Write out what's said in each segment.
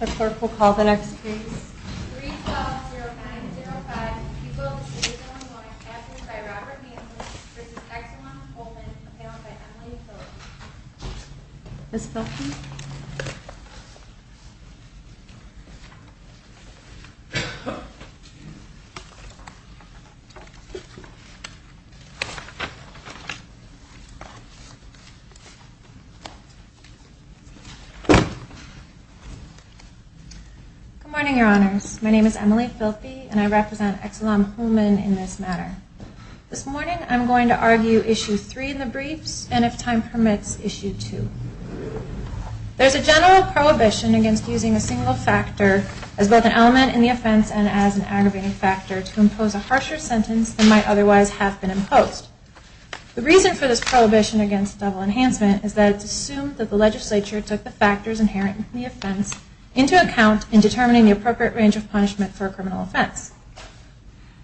The court will call the next case. 3-12-09-05 Equal Decision on Law Enforcement by Robert Manson v. Exelon Holman paneled by Emily Phillips Ms. Phillips Good morning, Your Honors. My name is Emily Phillips, and I represent Exelon Holman in this matter. This morning, I am going to argue Issue 3 in the briefs, and if time permits, Issue 2. There is a general prohibition against using a single factor as both an element in the offense and as an aggravating factor to impose a harsher sentence than might otherwise have been imposed. The reason for this prohibition against double enhancement is that it is assumed that the legislature took the factors inherent in the offense into account in determining the appropriate range of punishment for a criminal offense.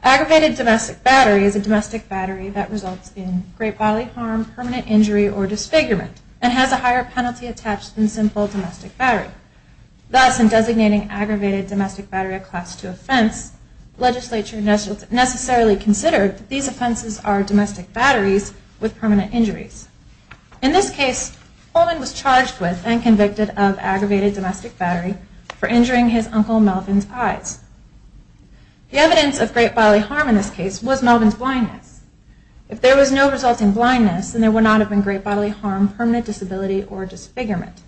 Aggravated domestic battery is a domestic battery that results in great bodily harm, permanent injury, or disfigurement, and has a higher penalty attached than simple domestic battery. Thus, in designating aggravated domestic battery a class 2 offense, the legislature necessarily considered that these offenses are domestic batteries with permanent injuries. In this case, Holman was charged with and convicted of aggravated domestic battery for injuring his uncle Melvin's eyes. The evidence of great bodily harm in this case was Melvin's blindness. If there was no resulting blindness, then there would not have been great bodily harm, permanent disability, or disfigurement.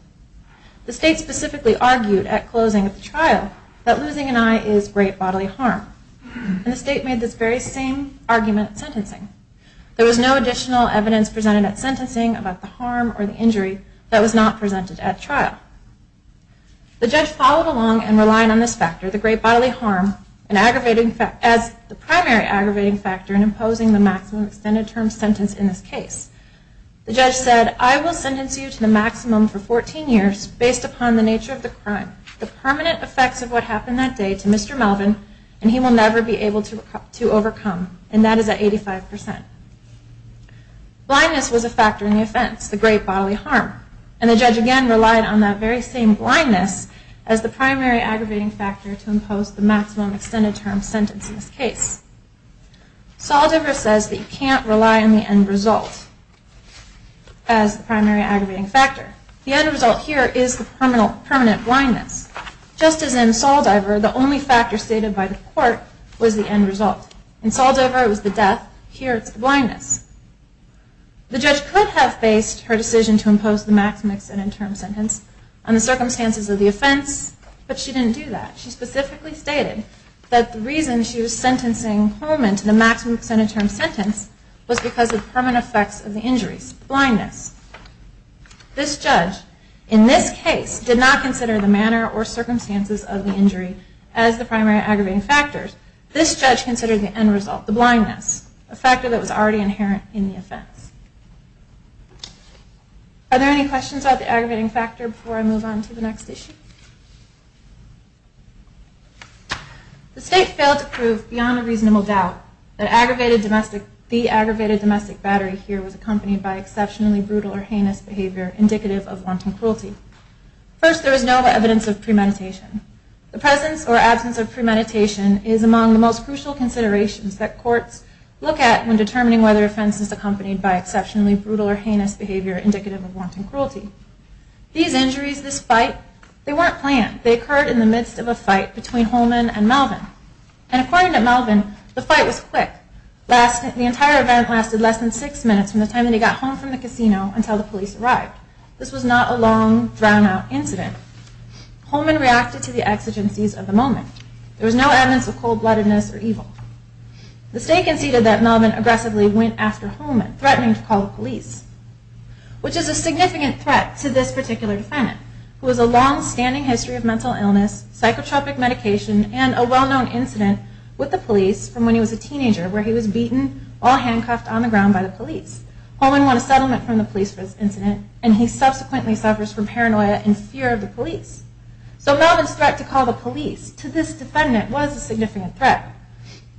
The state specifically argued at closing of the trial that losing an eye is great bodily harm, and the state made this very same argument at sentencing. There was no additional evidence presented at sentencing about the harm or the injury that was not presented at trial. The judge followed along and relied on this factor, the great bodily harm, as the primary aggravating factor in imposing the maximum extended term sentence in this case. The judge said, I will sentence you to the maximum for 14 years based upon the nature of the crime, the permanent effects of what happened that day to Mr. Melvin, and he will never be able to overcome, and that is at 85%. Blindness was a factor in the offense, the great bodily harm, and the judge again relied on that very same blindness as the primary aggravating factor to impose the maximum extended term sentence in this case. Saldiver says that you can't rely on the end result as the primary aggravating factor. The end result here is the permanent blindness. Just as in Saldiver, the only factor stated by the court was the end result. In Saldiver it was the death, here it's the blindness. The judge could have based her decision to impose the maximum extended term sentence on the circumstances of the offense, but she didn't do that. She specifically stated that the reason she was sentencing Holman to the maximum extended term sentence was because of permanent effects of the injuries, blindness. This judge, in this case, did not consider the manner or circumstances of the injury as the primary aggravating factor. This judge considered the end result, the blindness, a factor that was already inherent in the offense. Are there any questions about the aggravating factor before I move on to the next issue? The state failed to prove beyond a reasonable doubt that the aggravated domestic battery here was accompanied by exceptionally brutal or heinous behavior indicative of wanton cruelty. First, there was no evidence of premeditation. The presence or absence of premeditation is among the most crucial considerations that courts look at when determining whether an offense is accompanied by exceptionally brutal or heinous behavior indicative of wanton cruelty. These injuries, this fight, they weren't planned. They occurred in the midst of a fight between Holman and Melvin. And according to Melvin, the fight was quick. The entire event lasted less than six minutes from the time that he got home from the casino until the police arrived. This was not a long, drawn-out incident. Holman reacted to the exigencies of the moment. There was no evidence of cold-bloodedness or evil. The state conceded that Melvin aggressively went after Holman, threatening to call the police, which is a significant threat to this particular defendant, who has a long-standing history of mental illness, psychotropic medication, and a well-known incident with the police from when he was a teenager where he was beaten while handcuffed on the ground by the police. Holman won a settlement from the police for this incident, and he subsequently suffers from paranoia and fear of the police. So Melvin's threat to call the police to this defendant was a significant threat.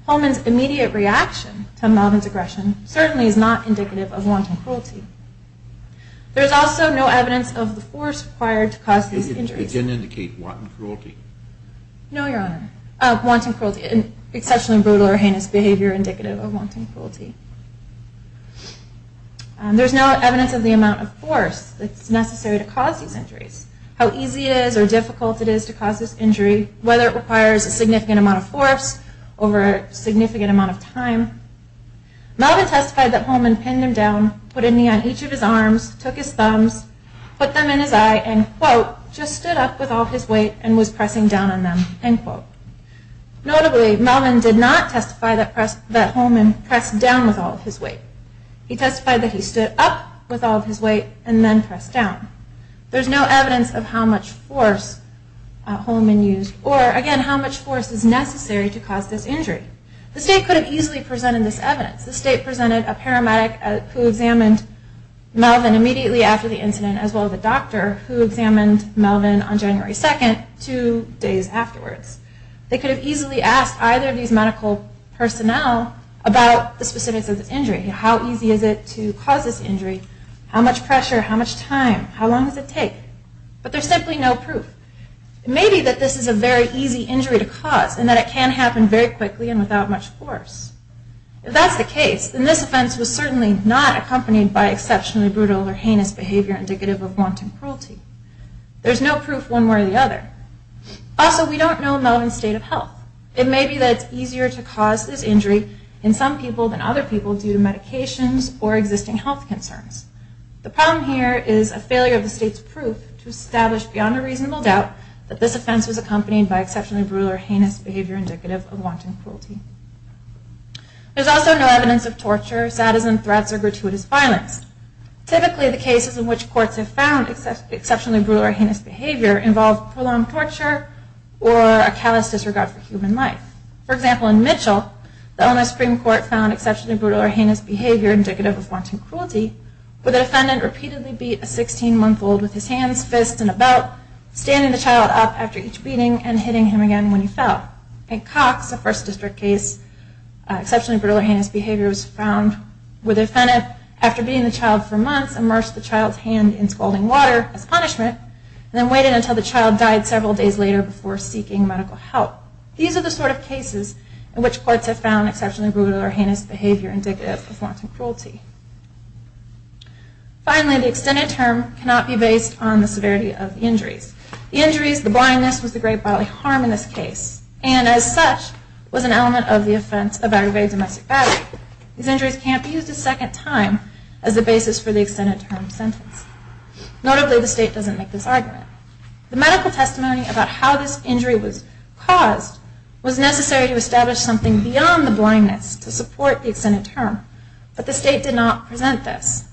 Holman's immediate reaction to Melvin's aggression certainly is not indicative of wanton cruelty. There is also no evidence of the force required to cause these injuries. It didn't indicate wanton cruelty? No, Your Honor. Exceptionally brutal or heinous behavior indicative of wanton cruelty. There's no evidence of the amount of force that's necessary to cause these injuries, how easy it is or difficult it is to cause this injury, whether it requires a significant amount of force over a significant amount of time. Melvin testified that Holman pinned him down, put a knee on each of his arms, took his thumbs, put them in his eye, and, quote, just stood up with all of his weight and was pressing down on them, end quote. Notably, Melvin did not testify that Holman pressed down with all of his weight. He testified that he stood up with all of his weight and then pressed down. There's no evidence of how much force Holman used or, again, how much force is necessary to cause this injury. The state could have easily presented this evidence. The state presented a paramedic who examined Melvin immediately after the incident as well as a doctor who examined Melvin on January 2nd two days afterwards. They could have easily asked either of these medical personnel about the specifics of the injury. How easy is it to cause this injury? How much pressure? How much time? How long does it take? But there's simply no proof. It may be that this is a very easy injury to cause and that it can happen very quickly and without much force. If that's the case, then this offense was certainly not accompanied by There's no proof one way or the other. Also, we don't know Melvin's state of health. It may be that it's easier to cause this injury in some people than other people due to medications or existing health concerns. The problem here is a failure of the state's proof to establish beyond a reasonable doubt that this offense was accompanied by exceptionally brutal or heinous behavior indicative of wanton cruelty. There's also no evidence of torture, sadism, threats, or gratuitous violence. Typically, the cases in which courts have found exceptionally brutal or heinous behavior involve prolonged torture or a callous disregard for human life. For example, in Mitchell, the Illinois Supreme Court found exceptionally brutal or heinous behavior indicative of wanton cruelty where the defendant repeatedly beat a 16-month-old with his hands, fists, and a belt, standing the child up after each beating and hitting him again when he fell. In Cox, a First District case, exceptionally brutal or heinous behavior was found where the defendant, after beating the child for months, immersed the child's hand in scalding water as punishment and then waited until the child died several days later before seeking medical help. These are the sort of cases in which courts have found exceptionally brutal or heinous behavior indicative of wanton cruelty. Finally, the extended term cannot be based on the severity of the injuries. The injuries, the blindness, was the great bodily harm in this case and, as such, was an element of the offense of aggravated domestic violence. These injuries can't be used a second time as the basis for the extended term sentence. Notably, the state doesn't make this argument. The medical testimony about how this injury was caused was necessary to establish something beyond the blindness to support the extended term, but the state did not present this.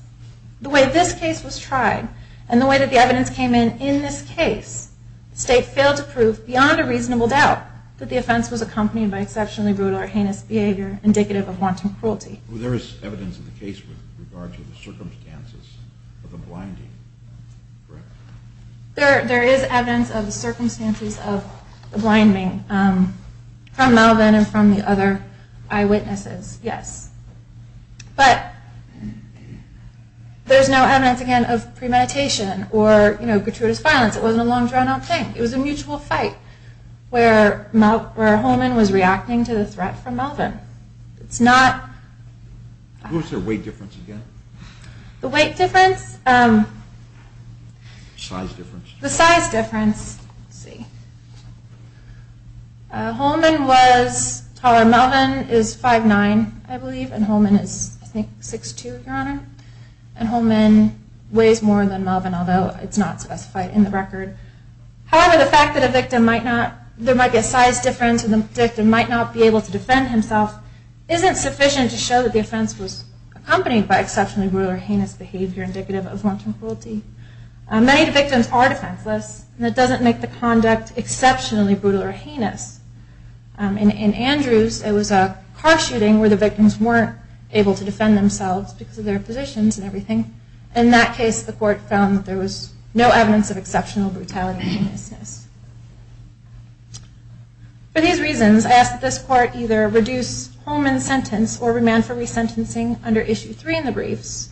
The way this case was tried and the way that the evidence came in in this case, the state failed to prove beyond a reasonable doubt that the offense was accompanied by exceptionally brutal or heinous behavior indicative of wanton cruelty. There is evidence of the case with regard to the circumstances of the blinding, correct? There is evidence of the circumstances of the blinding from Melvin and from the other eyewitnesses, yes. But there's no evidence, again, of premeditation or gratuitous violence. It wasn't a long-drawn-out thing. It was a mutual fight where Holman was reacting to the threat from Melvin. It's not... What was their weight difference again? The weight difference? Size difference. The size difference. Holman was taller. Melvin is 5'9", I believe, and Holman is, I think, 6'2", Your Honor. And Holman weighs more than Melvin, although it's not specified in the record. However, the fact that there might be a size difference and the victim might not be able to defend himself isn't sufficient to show that the offense was accompanied by exceptionally brutal or heinous behavior indicative of wanton cruelty. Many victims are defenseless, and it doesn't make the conduct exceptionally brutal or heinous. In Andrews, it was a car shooting where the victims weren't able to defend themselves because of their positions and everything. In that case, the court found that there was no evidence of exceptional brutality or heinousness. For these reasons, I ask that this court either reduce Holman's sentence or remand for resentencing under Issue 3 in the briefs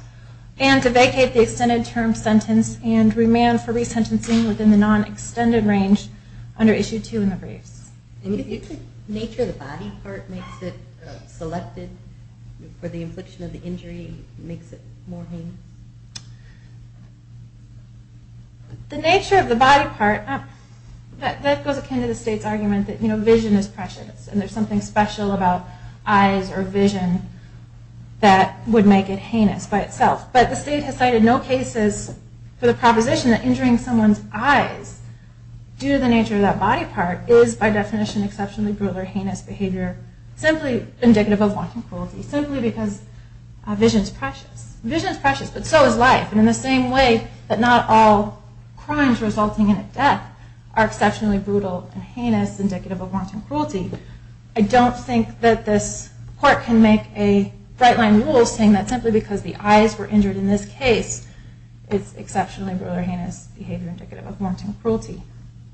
and to vacate the extended-term sentence and remand for resentencing within the non-extended range under Issue 2 in the briefs. Do you think the nature of the body part makes it selected for the infliction of the injury? Makes it more heinous? The nature of the body part, that goes akin to the state's argument that vision is precious and there's something special about eyes or vision that would make it heinous by itself. But the state has cited no cases for the proposition that injuring someone's eyes due to the nature of that body part is, by definition, exceptionally brutal or heinous behavior simply indicative of wanton cruelty, simply because vision is precious. Vision is precious, but so is life. And in the same way that not all crimes resulting in a death are exceptionally brutal and heinous indicative of wanton cruelty, I don't think that this court can make a right-line rule saying that simply because the eyes were injured in this case it's exceptionally brutal or heinous behavior indicative of wanton cruelty.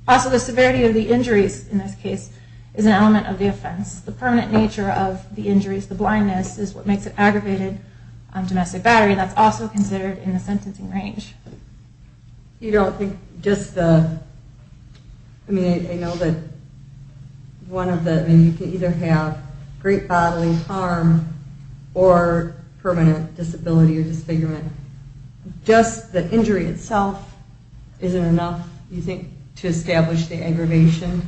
Also, the severity of the injuries in this case is an element of the offense. The permanent nature of the injuries, the blindness, is what makes it aggravated on domestic battery and that's also considered in the sentencing range. You don't think just the... I mean, I know that one of the... Just the injury itself isn't enough, you think, to establish the aggravation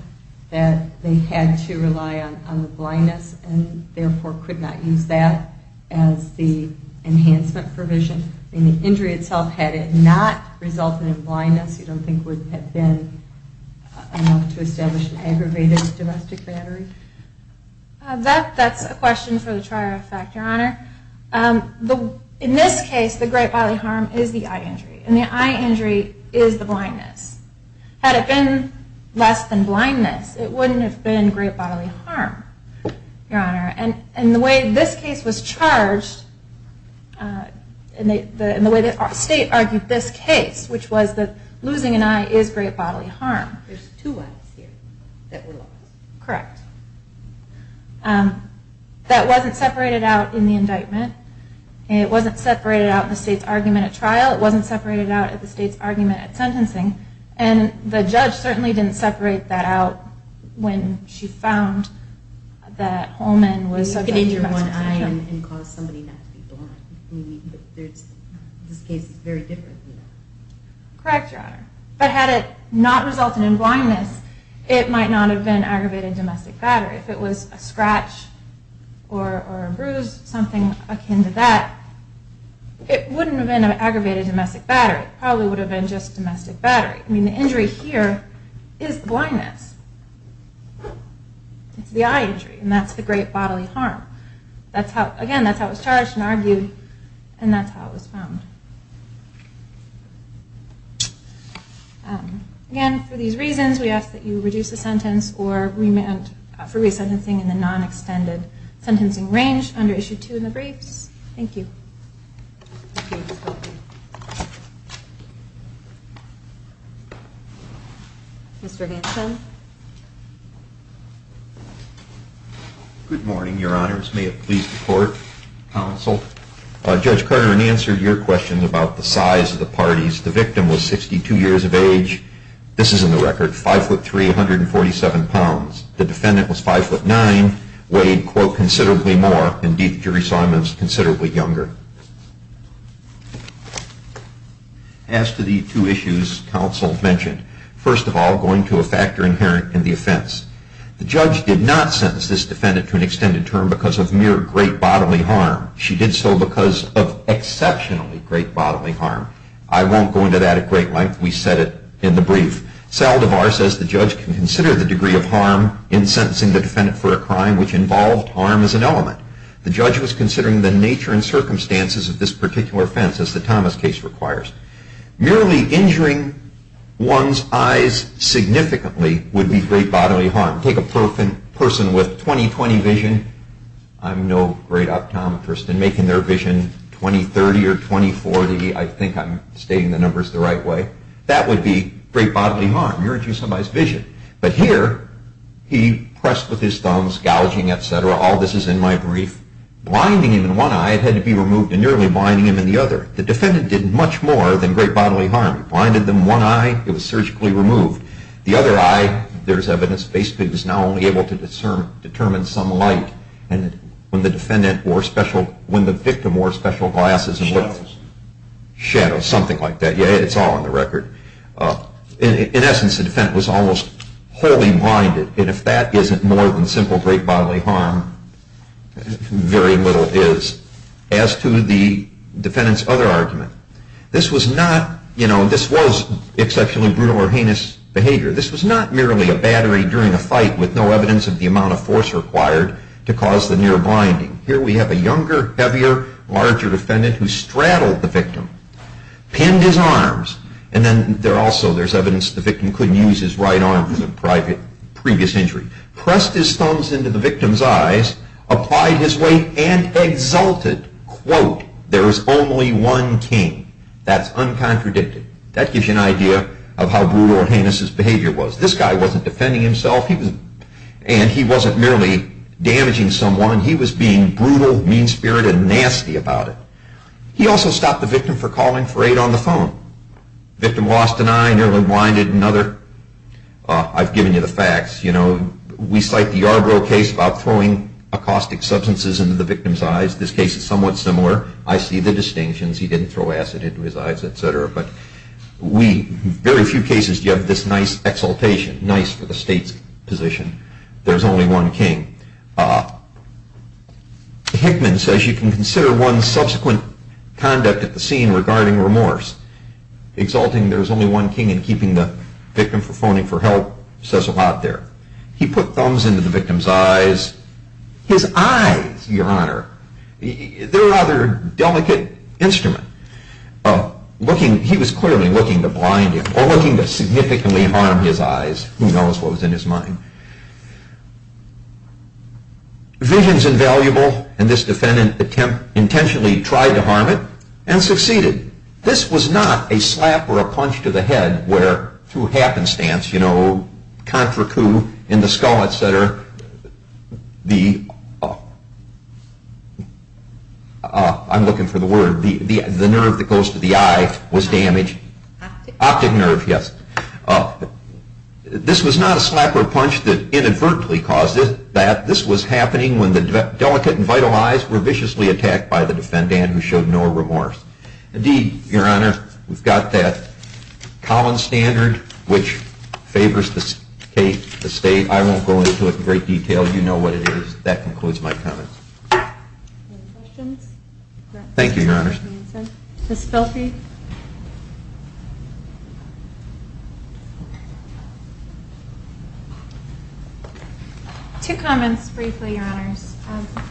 that they had to rely on the blindness and therefore could not use that as the enhancement provision? I mean, the injury itself, had it not resulted in blindness, you don't think it would have been enough to establish an aggravated domestic battery? That's a question for the trier effect, Your Honor. In this case, the great bodily harm is the eye injury, and the eye injury is the blindness. Had it been less than blindness, it wouldn't have been great bodily harm, Your Honor. And the way this case was charged, and the way the state argued this case, which was that losing an eye is great bodily harm. There's two eyes here that were lost. Correct. That wasn't separated out in the indictment. It wasn't separated out in the state's argument at trial. It wasn't separated out in the state's argument at sentencing. And the judge certainly didn't separate that out when she found that Holman was subject to domestic injury. You could injure one eye and cause somebody not to be blind. This case is very different than that. Correct, Your Honor. But had it not resulted in blindness, it might not have been aggravated domestic battery. If it was a scratch or a bruise, something akin to that, it wouldn't have been an aggravated domestic battery. It probably would have been just domestic battery. I mean, the injury here is blindness. It's the eye injury, and that's the great bodily harm. Again, that's how it was charged and argued, and that's how it was found. Again, for these reasons, we ask that you reduce the sentence for re-sentencing in the non-extended sentencing range under Issue 2 in the briefs. Thank you. Mr. Hanson. Good morning, Your Honors. May it please the Court, Counsel. Judge Carter, in answer to your question, about the size of the parties, the victim was 62 years of age. This is in the record, 5'3", 147 pounds. The defendant was 5'9", weighed, quote, considerably more. Indeed, the jury saw him as considerably younger. As to the two issues counsel mentioned, first of all, going to a factor inherent in the offense. The judge did not sentence this defendant to an extended term because of mere great bodily harm. She did so because of exceptionally great bodily harm. I won't go into that at great length. We said it in the brief. Saldivar says the judge can consider the degree of harm in sentencing the defendant for a crime which involved harm as an element. The judge was considering the nature and circumstances of this particular offense, as the Thomas case requires. Merely injuring one's eyes significantly would be great bodily harm. Take a person with 20-20 vision. I'm no great optometrist, and making their vision 20-30 or 20-40, I think I'm stating the numbers the right way. That would be great bodily harm, injuring somebody's vision. But here, he pressed with his thumbs, gouging, etc. All this is in my brief. Blinding him in one eye, it had to be removed, and nearly blinding him in the other. The defendant did much more than great bodily harm. He blinded them in one eye, it was surgically removed. The other eye, there's evidence, basically was now only able to determine some light. And when the victim wore special glasses and looked... Shadows. Shadows, something like that. Yeah, it's all on the record. In essence, the defendant was almost wholly blinded. And if that isn't more than simple great bodily harm, very little is. As to the defendant's other argument, this was not, you know, this was exceptionally brutal or heinous behavior. This was not merely a battery during a fight with no evidence of the amount of force required to cause the near blinding. Here we have a younger, heavier, larger defendant who straddled the victim, pinned his arms, and then there's evidence the victim couldn't use his right arm for the previous injury, pressed his thumbs into the victim's eyes, applied his weight, and exalted, quote, there is only one king. That's uncontradicted. That gives you an idea of how brutal or heinous his behavior was. This guy wasn't defending himself, and he wasn't merely damaging someone. He was being brutal, mean-spirited, and nasty about it. He also stopped the victim from calling for aid on the phone. Victim lost an eye, nearly blinded, and other... I've given you the facts. You know, we cite the Yarborough case about throwing caustic substances into the victim's eyes. This case is somewhat similar. I see the distinctions. He didn't throw acid into his eyes, etc., but very few cases do you have this nice exaltation, nice for the state's position. There's only one king. Hickman says you can consider one subsequent conduct at the scene regarding remorse. Exalting there's only one king and keeping the victim from phoning for help says a lot there. He put thumbs into the victim's eyes. His eyes, Your Honor, they're a rather delicate instrument. He was clearly looking to blind him or looking to significantly harm his eyes. Who knows what was in his mind? Vision's invaluable, and this defendant intentionally tried to harm it and succeeded. This was not a slap or a punch to the head where through happenstance, you know, in the skull, etc., I'm looking for the word. The nerve that goes to the eye was damaged. Optic nerve, yes. This was not a slap or a punch that inadvertently caused it. This was happening when the delicate and vital eyes were viciously attacked by the defendant who showed no remorse. Indeed, Your Honor, we've got that Collins standard, which favors the state. I won't go into it in great detail. You know what it is. That concludes my comments. Any questions? Thank you, Your Honor. Ms. Filfi? Two comments briefly, Your Honors.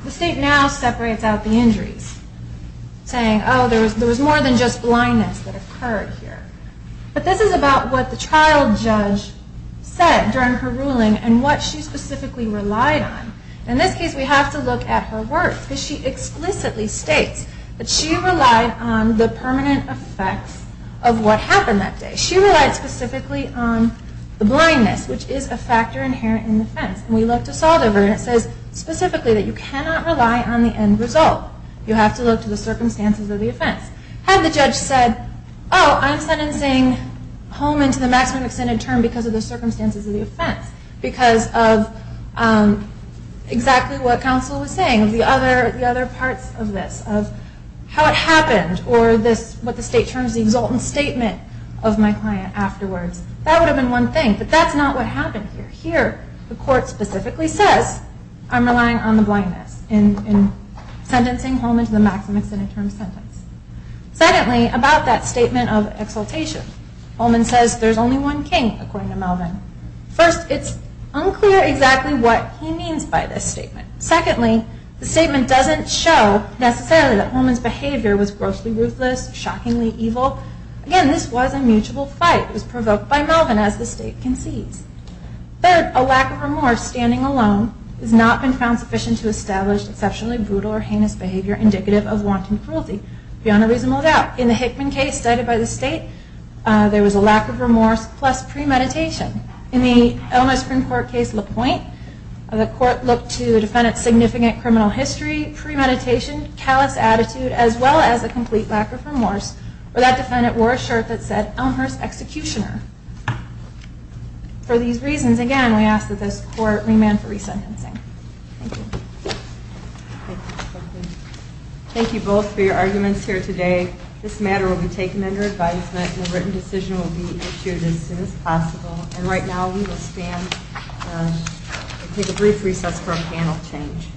The state now separates out the injuries, saying, oh, there was more than just blindness that occurred here. But this is about what the trial judge said during her ruling and what she specifically relied on. In this case, we have to look at her words, because she explicitly states that she relied on the permanent effects of what happened that day. She relied specifically on the blindness, which is a factor inherent in the offense. We looked this all over, and it says specifically that you cannot rely on the end result. You have to look to the circumstances of the offense. Had the judge said, oh, I'm sentencing Holman to the maximum extended term because of the circumstances of the offense, because of exactly what counsel was saying, the other parts of this, of how it happened, or what the state terms the exultant statement of my client afterwards, that would have been one thing. But that's not what happened here. Here, the court specifically says, I'm relying on the blindness in sentencing Holman to the maximum extended term sentence. Secondly, about that statement of exultation, Holman says there's only one king, according to Melvin. First, it's unclear exactly what he means by this statement. Secondly, the statement doesn't show necessarily that Holman's behavior was grossly ruthless, shockingly evil. Again, this was a mutual fight. It was provoked by Melvin, as the state concedes. Third, a lack of remorse standing alone has not been found sufficient to establish exceptionally brutal or heinous behavior indicative of wanton cruelty. Beyond a reasonable doubt, in the Hickman case cited by the state, there was a lack of remorse plus premeditation. In the Elmhurst Supreme Court case LaPointe, the court looked to the defendant's significant criminal history, premeditation, callous attitude, as well as a complete lack of remorse, where that defendant wore a shirt that said Elmhurst Executioner. For these reasons, again, we ask that this court remand for resentencing. Thank you. Thank you both for your arguments here today. This matter will be taken under advisement and a written decision will be issued as soon as possible. And right now, we will take a brief recess for a panel change.